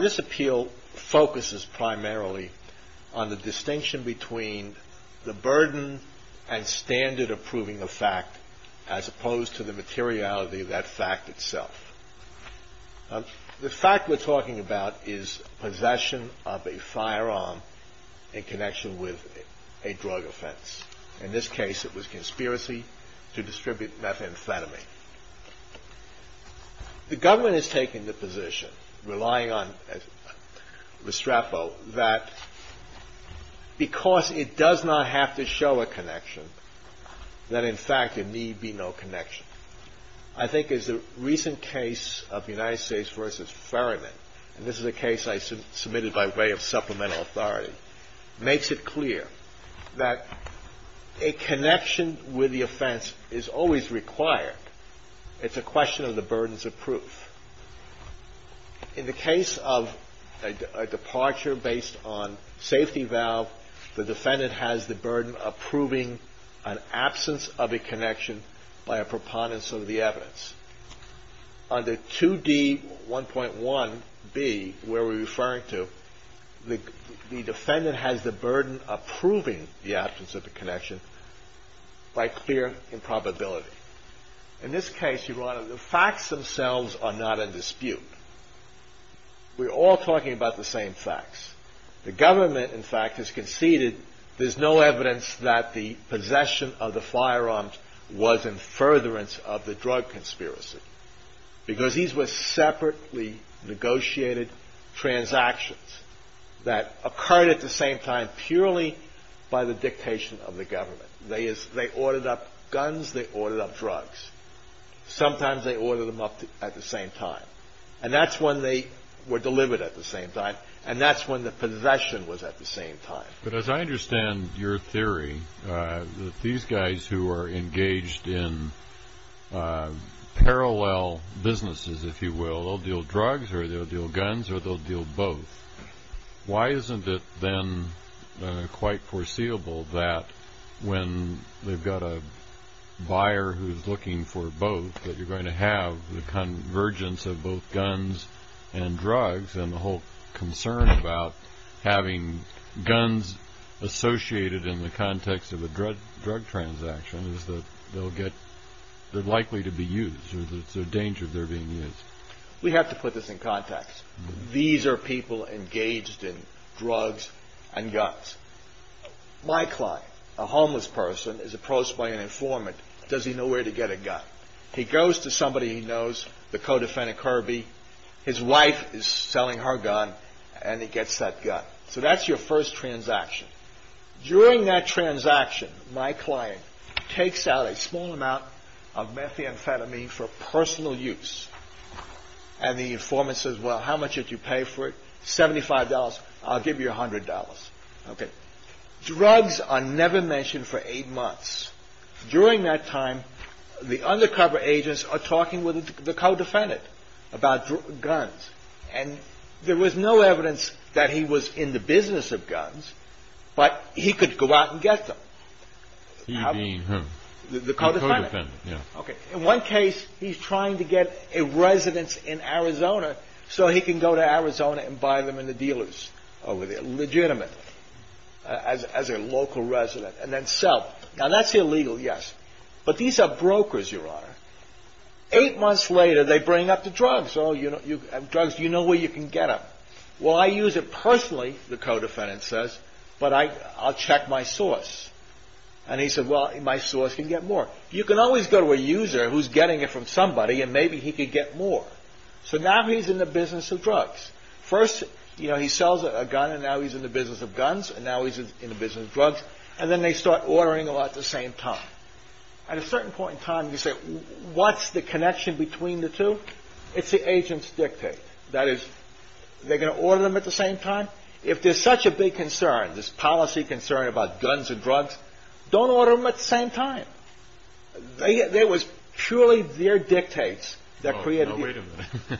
This appeal focuses primarily on the distinction between the burden and standard of proving a fact as opposed to the materiality of that fact itself. The fact we're talking about is possession of a firearm in connection with a drug offense. In this case it was conspiracy to distribute methamphetamine. The government is taking the position, relying on Restrepo, that because it does not have to show a connection, that in fact there need be no connection. I think as the recent case of United States v. Ferryman, and this is a case I submitted by way of supplemental authority, makes it clear that a connection with the offense is always required. It's a question of the burdens of proof. In the case of a departure based on safety valve, the defendant has the burden of proving an absence of a connection by a preponderance of the evidence. Under 2D1.1b, where we're referring to, the defendant has the burden of proving the absence of a connection by clear improbability. In this case, Your Honor, the facts themselves are not in dispute. We're all talking about the same facts. The government, in fact, has conceded there's no evidence that the possession of the firearms was in furtherance of the drug conspiracy. Because these were separately negotiated transactions that occurred at the same time purely by the dictation of the government. They ordered up guns. They ordered up drugs. Sometimes they ordered them up at the same time. And that's when they were delivered at the same time. And that's when the possession was at the same time. But as I understand your theory, that these guys who are engaged in parallel businesses, if you will, they'll deal drugs or they'll deal guns or they'll deal both. Why isn't it then quite foreseeable that when they've got a buyer who's looking for both, that you're going to have the convergence of both guns and drugs and the whole concern about having guns associated in the context of a drug transaction is that they're likely to be used or there's a danger of their being used. We have to put this in context. These are people engaged in drugs and guns. My client, a homeless person, is approached by an informant. Does he know where to get a gun? He goes to get a gun. So that's your first transaction. During that transaction, my client takes out a small amount of methamphetamine for personal use. And the informant says, well, how much did you pay for it? Seventy-five dollars. I'll give you a hundred dollars. Okay. Drugs are never mentioned for eight months. During that time, the undercover agents are talking with the co-defendant about guns. And there was no evidence that he was in the business of guns, but he could go out and get them. You mean who? The co-defendant. In one case, he's trying to get a residence in Arizona so he can go to Arizona and buy them in the dealers over there legitimately as a local resident and then sell. Now that's illegal, yes. But these are brokers, Your Honor. Eight months later, they bring up the drugs. Drugs, do you know where you can get them? Well, I use it personally, the co-defendant says, but I'll check my source. And he said, well, my source can get more. You can always go to a user who's getting it from somebody and maybe he could get more. So now he's in the business of drugs. First, he sells a gun and now he's in the business of guns and now he's in the business of drugs. And then they start ordering a lot at the same time. At a certain point in time, you say, what's the connection between the two? It's the agent's dictate. That is, they're going to order them at the same time? If there's such a big concern, this policy concern about guns and drugs, don't order them at the same time. There was purely their dictates that created the...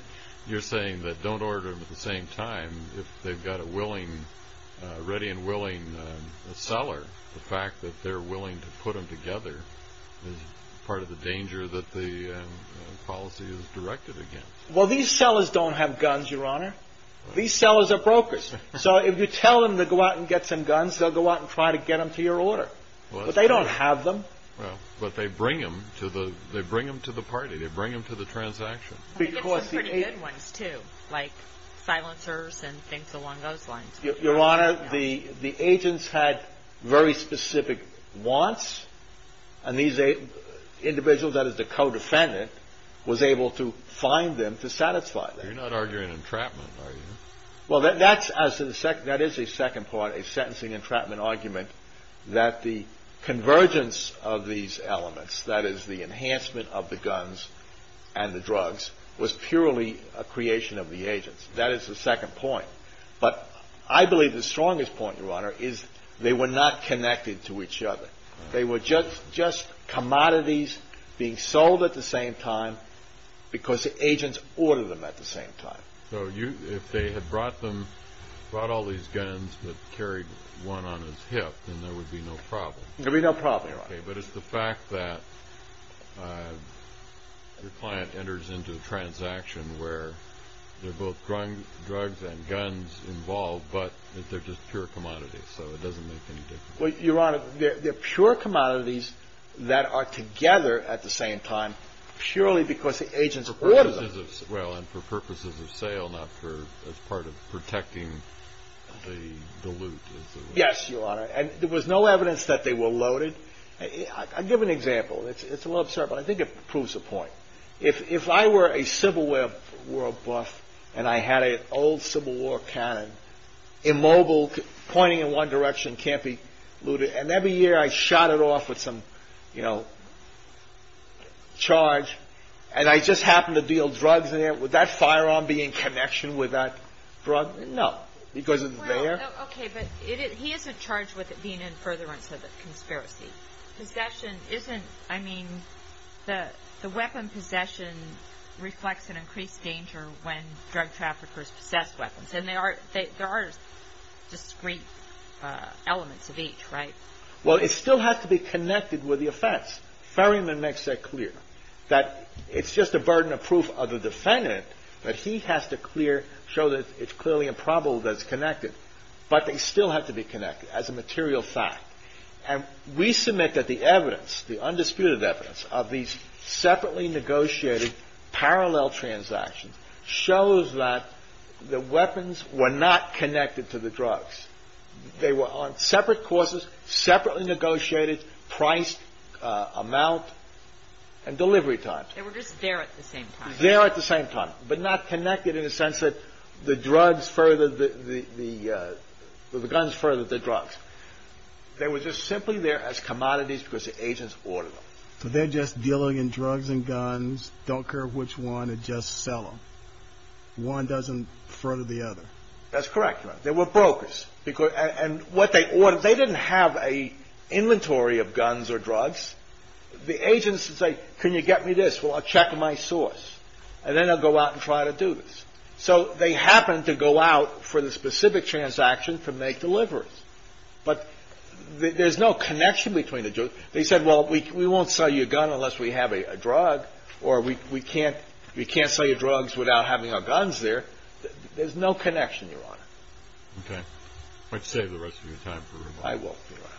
You're saying that don't order them at the same time if they've got a willing, ready and willing seller. The fact that they're willing to put them together is part of the danger that the policy is directed against. Well, these sellers don't have guns, Your Honor. These sellers are brokers. So if you tell them to go out and get some guns, they'll go out and try to get them to your order. But they don't have them. Well, but they bring them to the party. They bring them to the transaction. I think it's a pretty good ones, too, like silencers and things along those lines. Your Honor, the agents had very specific wants, and these individuals, that is the co-defendant, was able to find them to satisfy them. You're not arguing entrapment, are you? Well, that is a second part, a sentencing entrapment argument, that the convergence of these elements, that is the enhancement of the guns and the drugs, was purely a creation of the agents. That is the second point. But I believe the strongest point, Your Honor, is they were not connected to each other. They were just commodities being sold at the same time because the agents ordered them at the same time. So if they had brought them, brought all these guns, but carried one on his hip, then there would be no problem. There would be no problem, Your Honor. But it's the fact that your client enters into a transaction where they're both drugs and guns involved, but they're just pure commodities, so it doesn't make any difference. Well, Your Honor, they're pure commodities that are together at the same time purely because the agents ordered them. Well, and for purposes of sale, not for as part of protecting the loot. Yes, Your Honor. And there was no evidence that they were loaded. I'll give an example. It's a little absurd, but I think it proves the point. If I were a Civil War buff and I had an old Civil War cannon, immobile, pointing in one direction, can't be looted, and every year I shot it off with some charge, and I just happened to deal drugs in it, would that firearm be in connection with that drug? No, because it's there. Okay, but he isn't charged with it being in furtherance of the conspiracy. Possession isn't, I mean, the weapon possession reflects an increased danger when drug traffickers possess weapons, and they are, there are discrete elements of each, right? Well, it still has to be connected with the offense. Ferryman makes that clear, that it's just a burden of proof of the defendant that he has to clear, show that it's clearly a problem that's connected, but they still have to be connected as a material fact. And we submit that the evidence, the undisputed evidence of these separately negotiated parallel transactions shows that the weapons were not connected to the drugs. They were on separate courses, separately negotiated price, amount, and delivery times. They were just there at the same time. There at the same time, but not connected in the sense that the drugs furthered the, the guns furthered the drugs. They were just simply there as commodities because the agents ordered them. So they're just dealing in drugs and guns, don't care which one, and just sell them. One doesn't further the other. That's correct, Your Honor. They were brokers. And what they ordered, they didn't have an inventory of guns or drugs. The agents would say, can you get me this? Well, I'll check my source, and then I'll go out and try to do this. So they happened to go out for the specific transaction to make deliveries. But there's no connection between the, they said, well, we won't sell you a gun unless we have a drug, or we can't, we can't sell you drugs without having our guns there. There's no connection, Your Honor. Okay. I'd save the rest of your time for rebuttal. I will, Your Honor.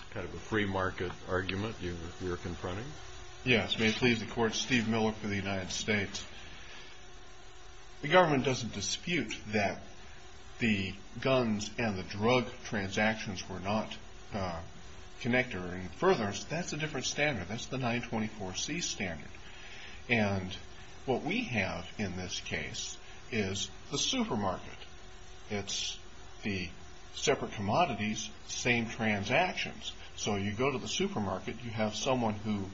It's kind of a free market argument you're confronting. Yes. May it please the Court, Steve Miller for the United States. The government doesn't dispute that the guns and the drug transactions were not connected. And further, that's a different standard. That's the 924C standard. And what we have in this case is the supermarket. It's the separate commodities, same transactions. So you go to the supermarket, you have someone who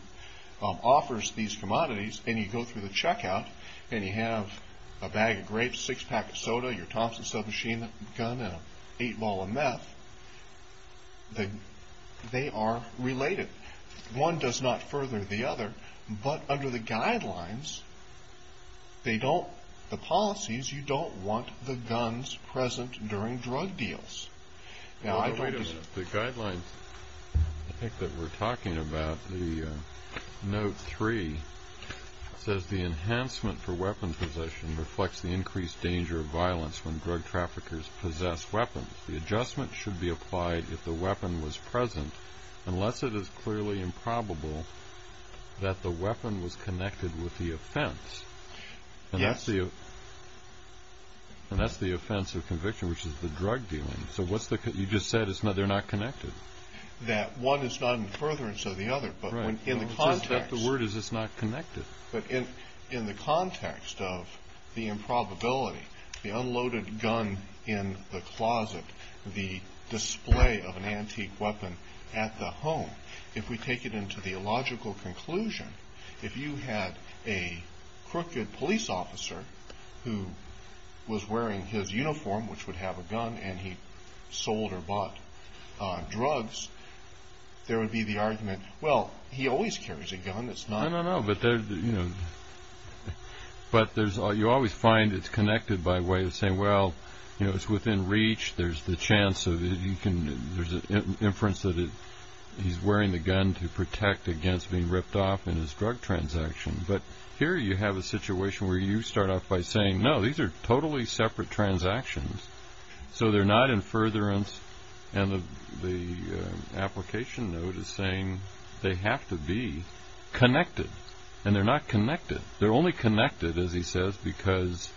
offers these commodities, and you go through the checkout, and you have a bag of grapes, a six-pack of soda, your Thompson submachine gun, and an eight-ball of meth. They are related. One does not further the other. But under the guidelines, they don't, the policies, you don't want the guns present during drug deals. The guidelines I think that we're talking about, the Note 3, says, The enhancement for weapon possession reflects the increased danger of violence when drug traffickers possess weapons. The adjustment should be applied if the weapon was present, unless it is clearly improbable that the weapon was connected with the offense. Yes. And that's the offense of conviction, which is the drug dealing. So what's the, you just said they're not connected. That one is not in furtherance of the other. Right. The word is it's not connected. But in the context of the improbability, the unloaded gun in the closet, the display of an antique weapon at the home, if we take it into the illogical conclusion, if you had a crooked police officer who was wearing his uniform, which would have a gun, and he sold or bought drugs, there would be the argument, well, he always carries a gun, it's not. No, no, no, but there's, you know, but there's, you always find it's connected by way of saying, well, you know, it's within reach, there's the chance of, you can, there's an inference that he's wearing the gun to protect against being ripped off in his drug transaction. But here you have a situation where you start off by saying, no, these are totally separate transactions, so they're not in furtherance, and the application note is saying they have to be connected. And they're not connected. They're only connected, as he says, because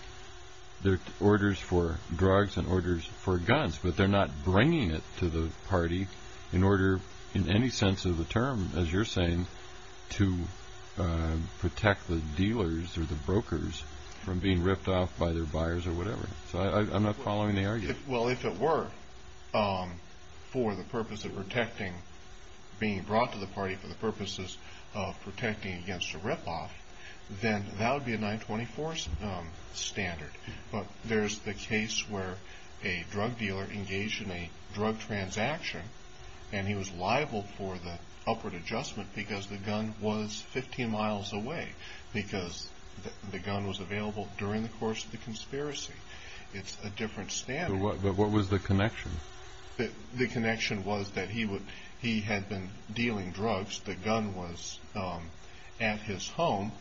they're orders for drugs and orders for guns, but they're not bringing it to the party in order, in any sense of the term, as you're saying, to protect the dealers or the brokers from being ripped off by their buyers or whatever. So I'm not following the argument. Well, if it were for the purpose of protecting, being brought to the party for the purposes of protecting against a rip-off, then that would be a 924 standard. But there's the case where a drug dealer engaged in a drug transaction, and he was liable for the upward adjustment because the gun was 15 miles away, because the gun was available during the course of the conspiracy. It's a different standard. But what was the connection? The connection was that he had been dealing drugs. The gun was at his home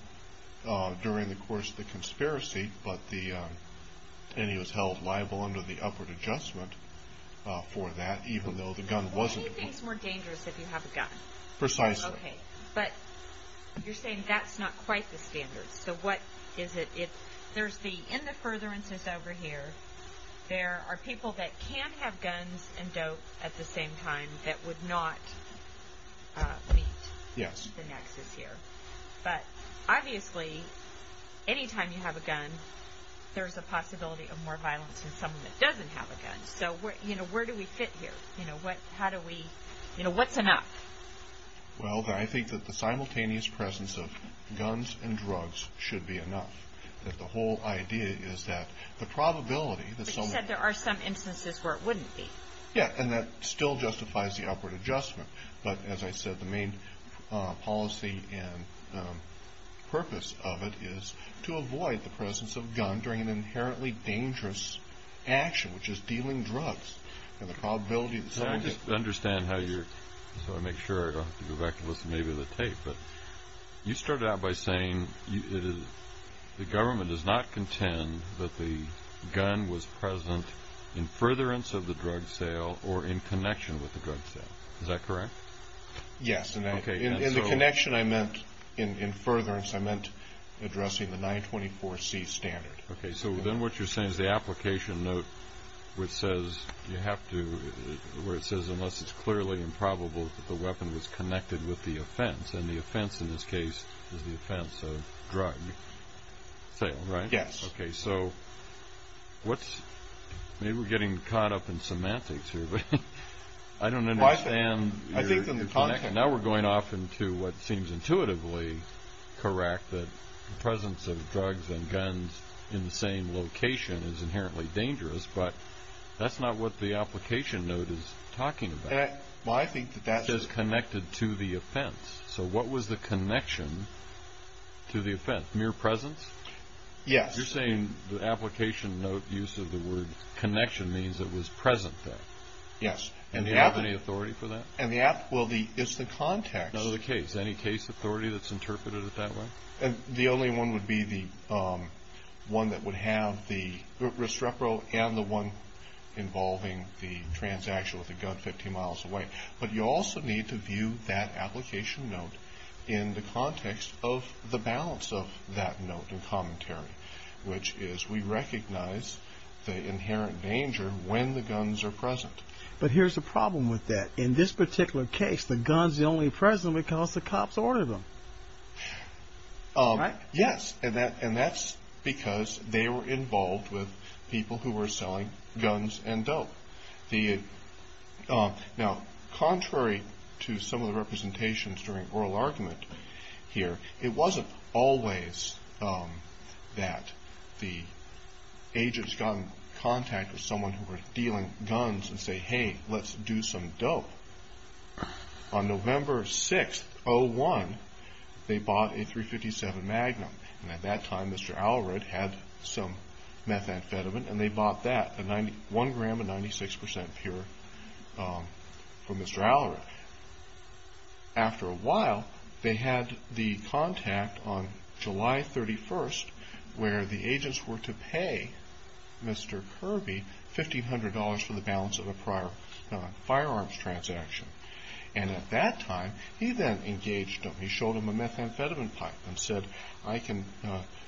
during the course of the conspiracy, and he was held liable under the upward adjustment for that, even though the gun wasn't. Well, anything's more dangerous if you have a gun. Precisely. Okay. But you're saying that's not quite the standard. So what is it? In the furtherances over here, there are people that can have guns and dope at the same time that would not meet the nexus here. But obviously, anytime you have a gun, there's a possibility of more violence in someone that doesn't have a gun. So where do we fit here? How do we – what's enough? Well, I think that the simultaneous presence of guns and drugs should be enough. That the whole idea is that the probability that someone – But you said there are some instances where it wouldn't be. Yeah, and that still justifies the upward adjustment. But, as I said, the main policy and purpose of it is to avoid the presence of a gun during an inherently dangerous action, which is dealing drugs, and the probability that someone – Can I just understand how you're – so I make sure I don't have to go back and listen to the tape. You started out by saying the government does not contend that the gun was present in furtherance of the drug sale or in connection with the drug sale. Is that correct? Yes, and the connection I meant in furtherance, I meant addressing the 924C standard. Okay, so then what you're saying is the application note which says you have to – where it says unless it's clearly improbable that the weapon was connected with the offense, and the offense in this case is the offense of drug sale, right? Yes. Okay, so what's – maybe we're getting caught up in semantics here, but I don't understand. Now we're going off into what seems intuitively correct, that the presence of drugs and guns in the same location is inherently dangerous, but that's not what the application note is talking about. Well, I think that that's – It says connected to the offense. So what was the connection to the offense? Mere presence? Yes. You're saying the application note use of the word connection means it was present then? Yes. And do you have any authority for that? And the – well, it's the context. None of the case. Any case authority that's interpreted it that way? The only one would be the one that would have the restrepo and the one involving the transaction with the gun 15 miles away. But you also need to view that application note in the context of the balance of that note and commentary, which is we recognize the inherent danger when the guns are present. But here's the problem with that. In this particular case, the gun's the only present because the cops ordered them. Right? Yes. And that's because they were involved with people who were selling guns and dope. Now, contrary to some of the representations during oral argument here, it wasn't always that the agents got in contact with someone who was dealing guns and say, hey, let's do some dope. On November 6th, 01, they bought a .357 Magnum. And at that time, Mr. Allred had some methamphetamine, and they bought that, one gram of 96 percent pure from Mr. Allred. But after a while, they had the contact on July 31st where the agents were to pay Mr. Kirby $1,500 for the balance of a prior firearms transaction. And at that time, he then engaged them. He showed them a methamphetamine pipe and said, I can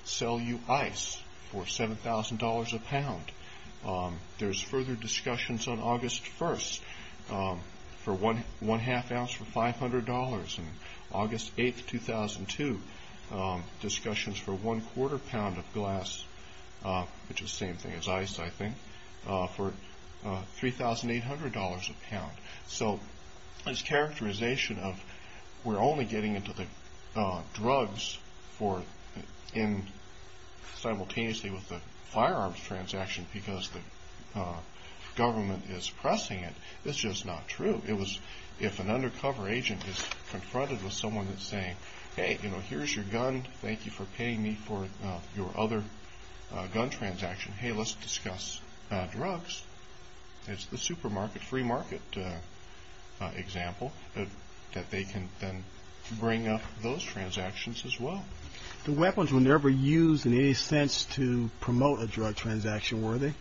sell you ice for $7,000 a pound. There's further discussions on August 1st for one half ounce for $500. And August 8th, 2002, discussions for one quarter pound of glass, which is the same thing as ice, I think, for $3,800 a pound. So this characterization of we're only getting into the drugs simultaneously with the firearms transaction because the government is pressing it, that's just not true. If an undercover agent is confronted with someone that's saying, hey, here's your gun. Thank you for paying me for your other gun transaction. Hey, let's discuss drugs. It's the supermarket, free market example that they can then bring up those transactions as well. The weapons were never used in any sense to promote a drug transaction, were they?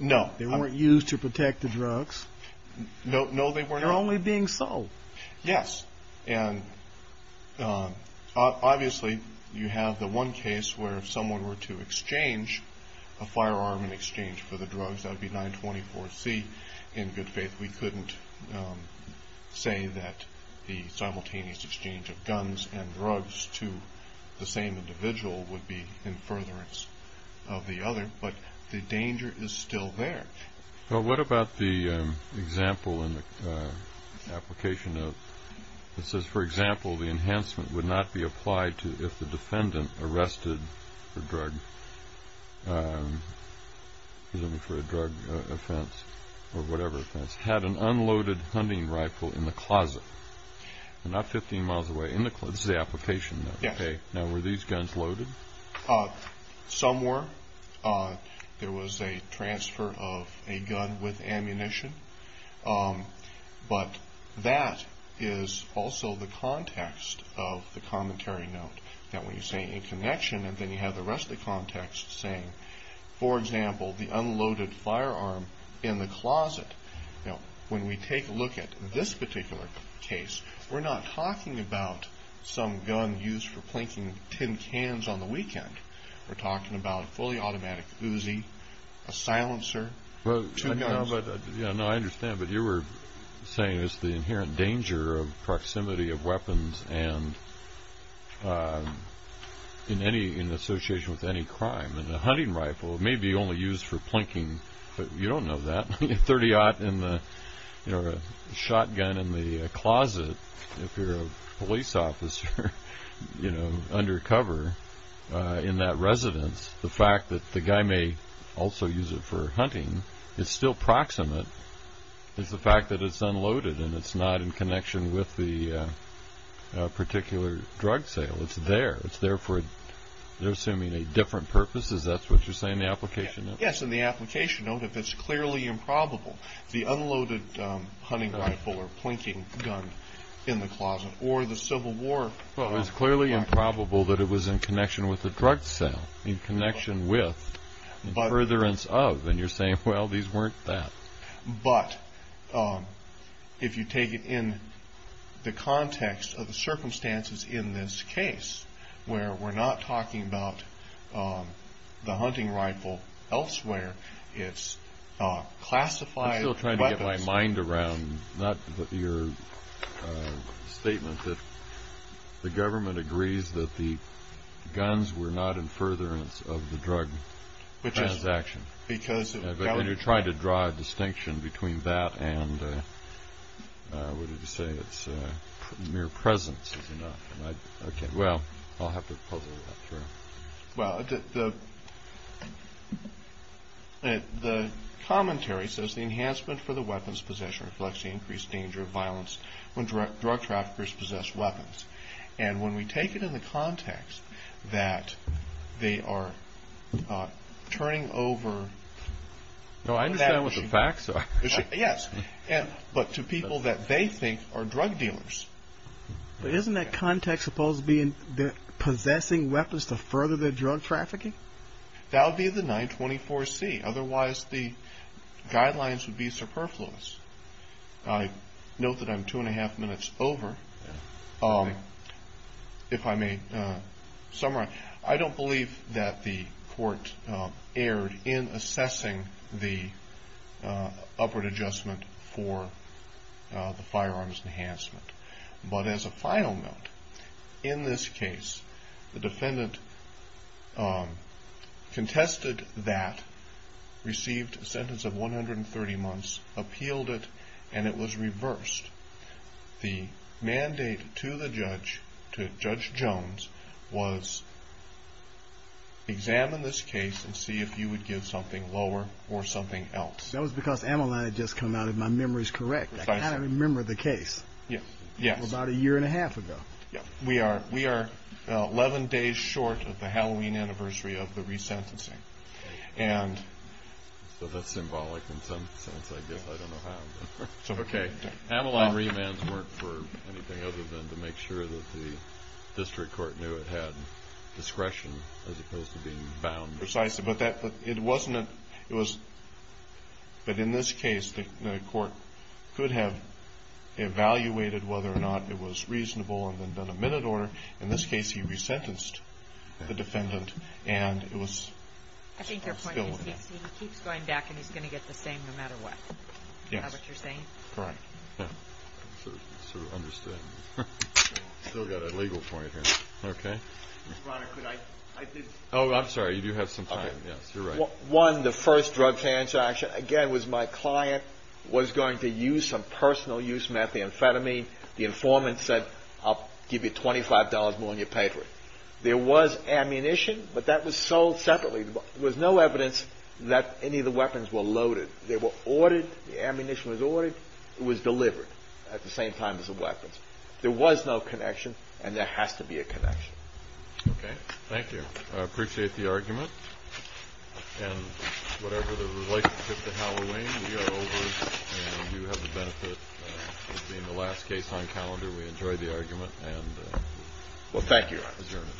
No. They weren't used to protect the drugs. No, they were not. They're only being sold. Yes. And obviously, you have the one case where if someone were to exchange a firearm in exchange for the drugs, that would be 924C. In good faith, we couldn't say that the simultaneous exchange of guns and drugs to the same individual would be in furtherance of the other, but the danger is still there. Well, what about the example in the application note that says, for example, the enhancement would not be applied to if the defendant arrested for a drug offense or whatever offense, had an unloaded hunting rifle in the closet. Not 15 miles away. This is the application note. Now, were these guns loaded? Some were. There was a transfer of a gun with ammunition. But that is also the context of the commentary note, that when you say in connection, and then you have the rest of the context saying, for example, the unloaded firearm in the closet. Now, when we take a look at this particular case, we're not talking about some gun used for plinking tin cans on the weekend. We're talking about a fully automatic Uzi, a silencer, two guns. No, I understand, but you were saying there's the inherent danger of proximity of weapons in association with any crime. And a hunting rifle may be only used for plinking, but you don't know that. A .30-0 in the shotgun in the closet, if you're a police officer, you know, undercover in that residence, the fact that the guy may also use it for hunting is still proximate is the fact that it's unloaded and it's not in connection with the particular drug sale. It's there. They're assuming a different purpose. Is that what you're saying in the application note? Yes, in the application note, if it's clearly improbable, the unloaded hunting rifle or plinking gun in the closet or the Civil War rifle. It's clearly improbable that it was in connection with the drug sale, in connection with, in furtherance of, and you're saying, well, these weren't that. But if you take it in the context of the circumstances in this case, where we're not talking about the hunting rifle elsewhere, it's classified weapons. I'm still trying to get my mind around not your statement that the government agrees that the guns were not in furtherance of the drug transaction, but then you're trying to draw a distinction between that and, what did you say? It's mere presence, is it not? Well, I'll have to puzzle that through. Well, the commentary says the enhancement for the weapons possession reflects the increased danger of violence when drug traffickers possess weapons. And when we take it in the context that they are turning over— No, I understand what the facts are. Yes, but to people that they think are drug dealers. But isn't that context supposed to be that they're possessing weapons to further their drug trafficking? That would be the 924C. Otherwise, the guidelines would be superfluous. I note that I'm two and a half minutes over. If I may summarize, I don't believe that the court erred in assessing the upward adjustment for the firearms enhancement. But as a final note, in this case, the defendant contested that, received a sentence of 130 months, appealed it, and it was reversed. The mandate to the judge, to Judge Jones, was examine this case and see if you would give something lower or something else. That was because Ameline had just come out, if my memory is correct. I can't remember the case. Yes. About a year and a half ago. We are 11 days short of the Halloween anniversary of the resentencing. So that's symbolic in some sense, I guess. I don't know how. Okay. Ameline remands weren't for anything other than to make sure that the district court knew it had discretion as opposed to being bound. Precisely. But in this case, the court could have evaluated whether or not it was reasonable and then done a minute order. In this case, he resentenced the defendant. I think your point is he keeps going back and he's going to get the same no matter what. Yes. Is that what you're saying? Correct. Still got a legal point here. Okay. Oh, I'm sorry. You do have some time. Yes, you're right. One, the first drug transaction, again, was my client was going to use some personal use methamphetamine. The informant said, I'll give you $25 more and you pay for it. There was ammunition, but that was sold separately. There was no evidence that any of the weapons were loaded. They were ordered. The ammunition was ordered. It was delivered at the same time as the weapons. There was no connection and there has to be a connection. Okay. Thank you. I appreciate the argument. And whatever the relationship to Halloween, we are over and you have the benefit of being the last case on calendar. We enjoyed the argument. Well, thank you.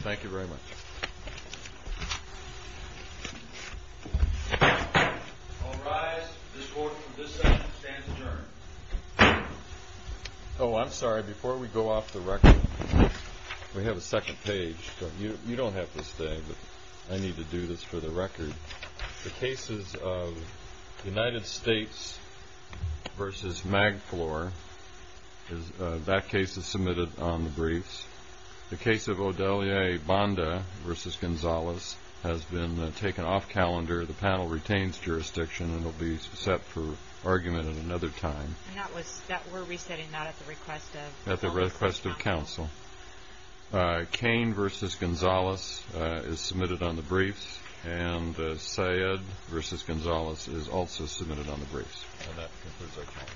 Thank you very much. All rise. This court from this session stands adjourned. Oh, I'm sorry. Before we go off the record, we have a second page. You don't have to stay, but I need to do this for the record. The cases of United States versus Magflor, that case is submitted on the briefs. The case of Odelier Banda versus Gonzalez has been taken off calendar. The panel retains jurisdiction and will be set for argument at another time. We're resetting that at the request of counsel. At the request of counsel. Cain versus Gonzalez is submitted on the briefs. And Syed versus Gonzalez is also submitted on the briefs. And that concludes our time.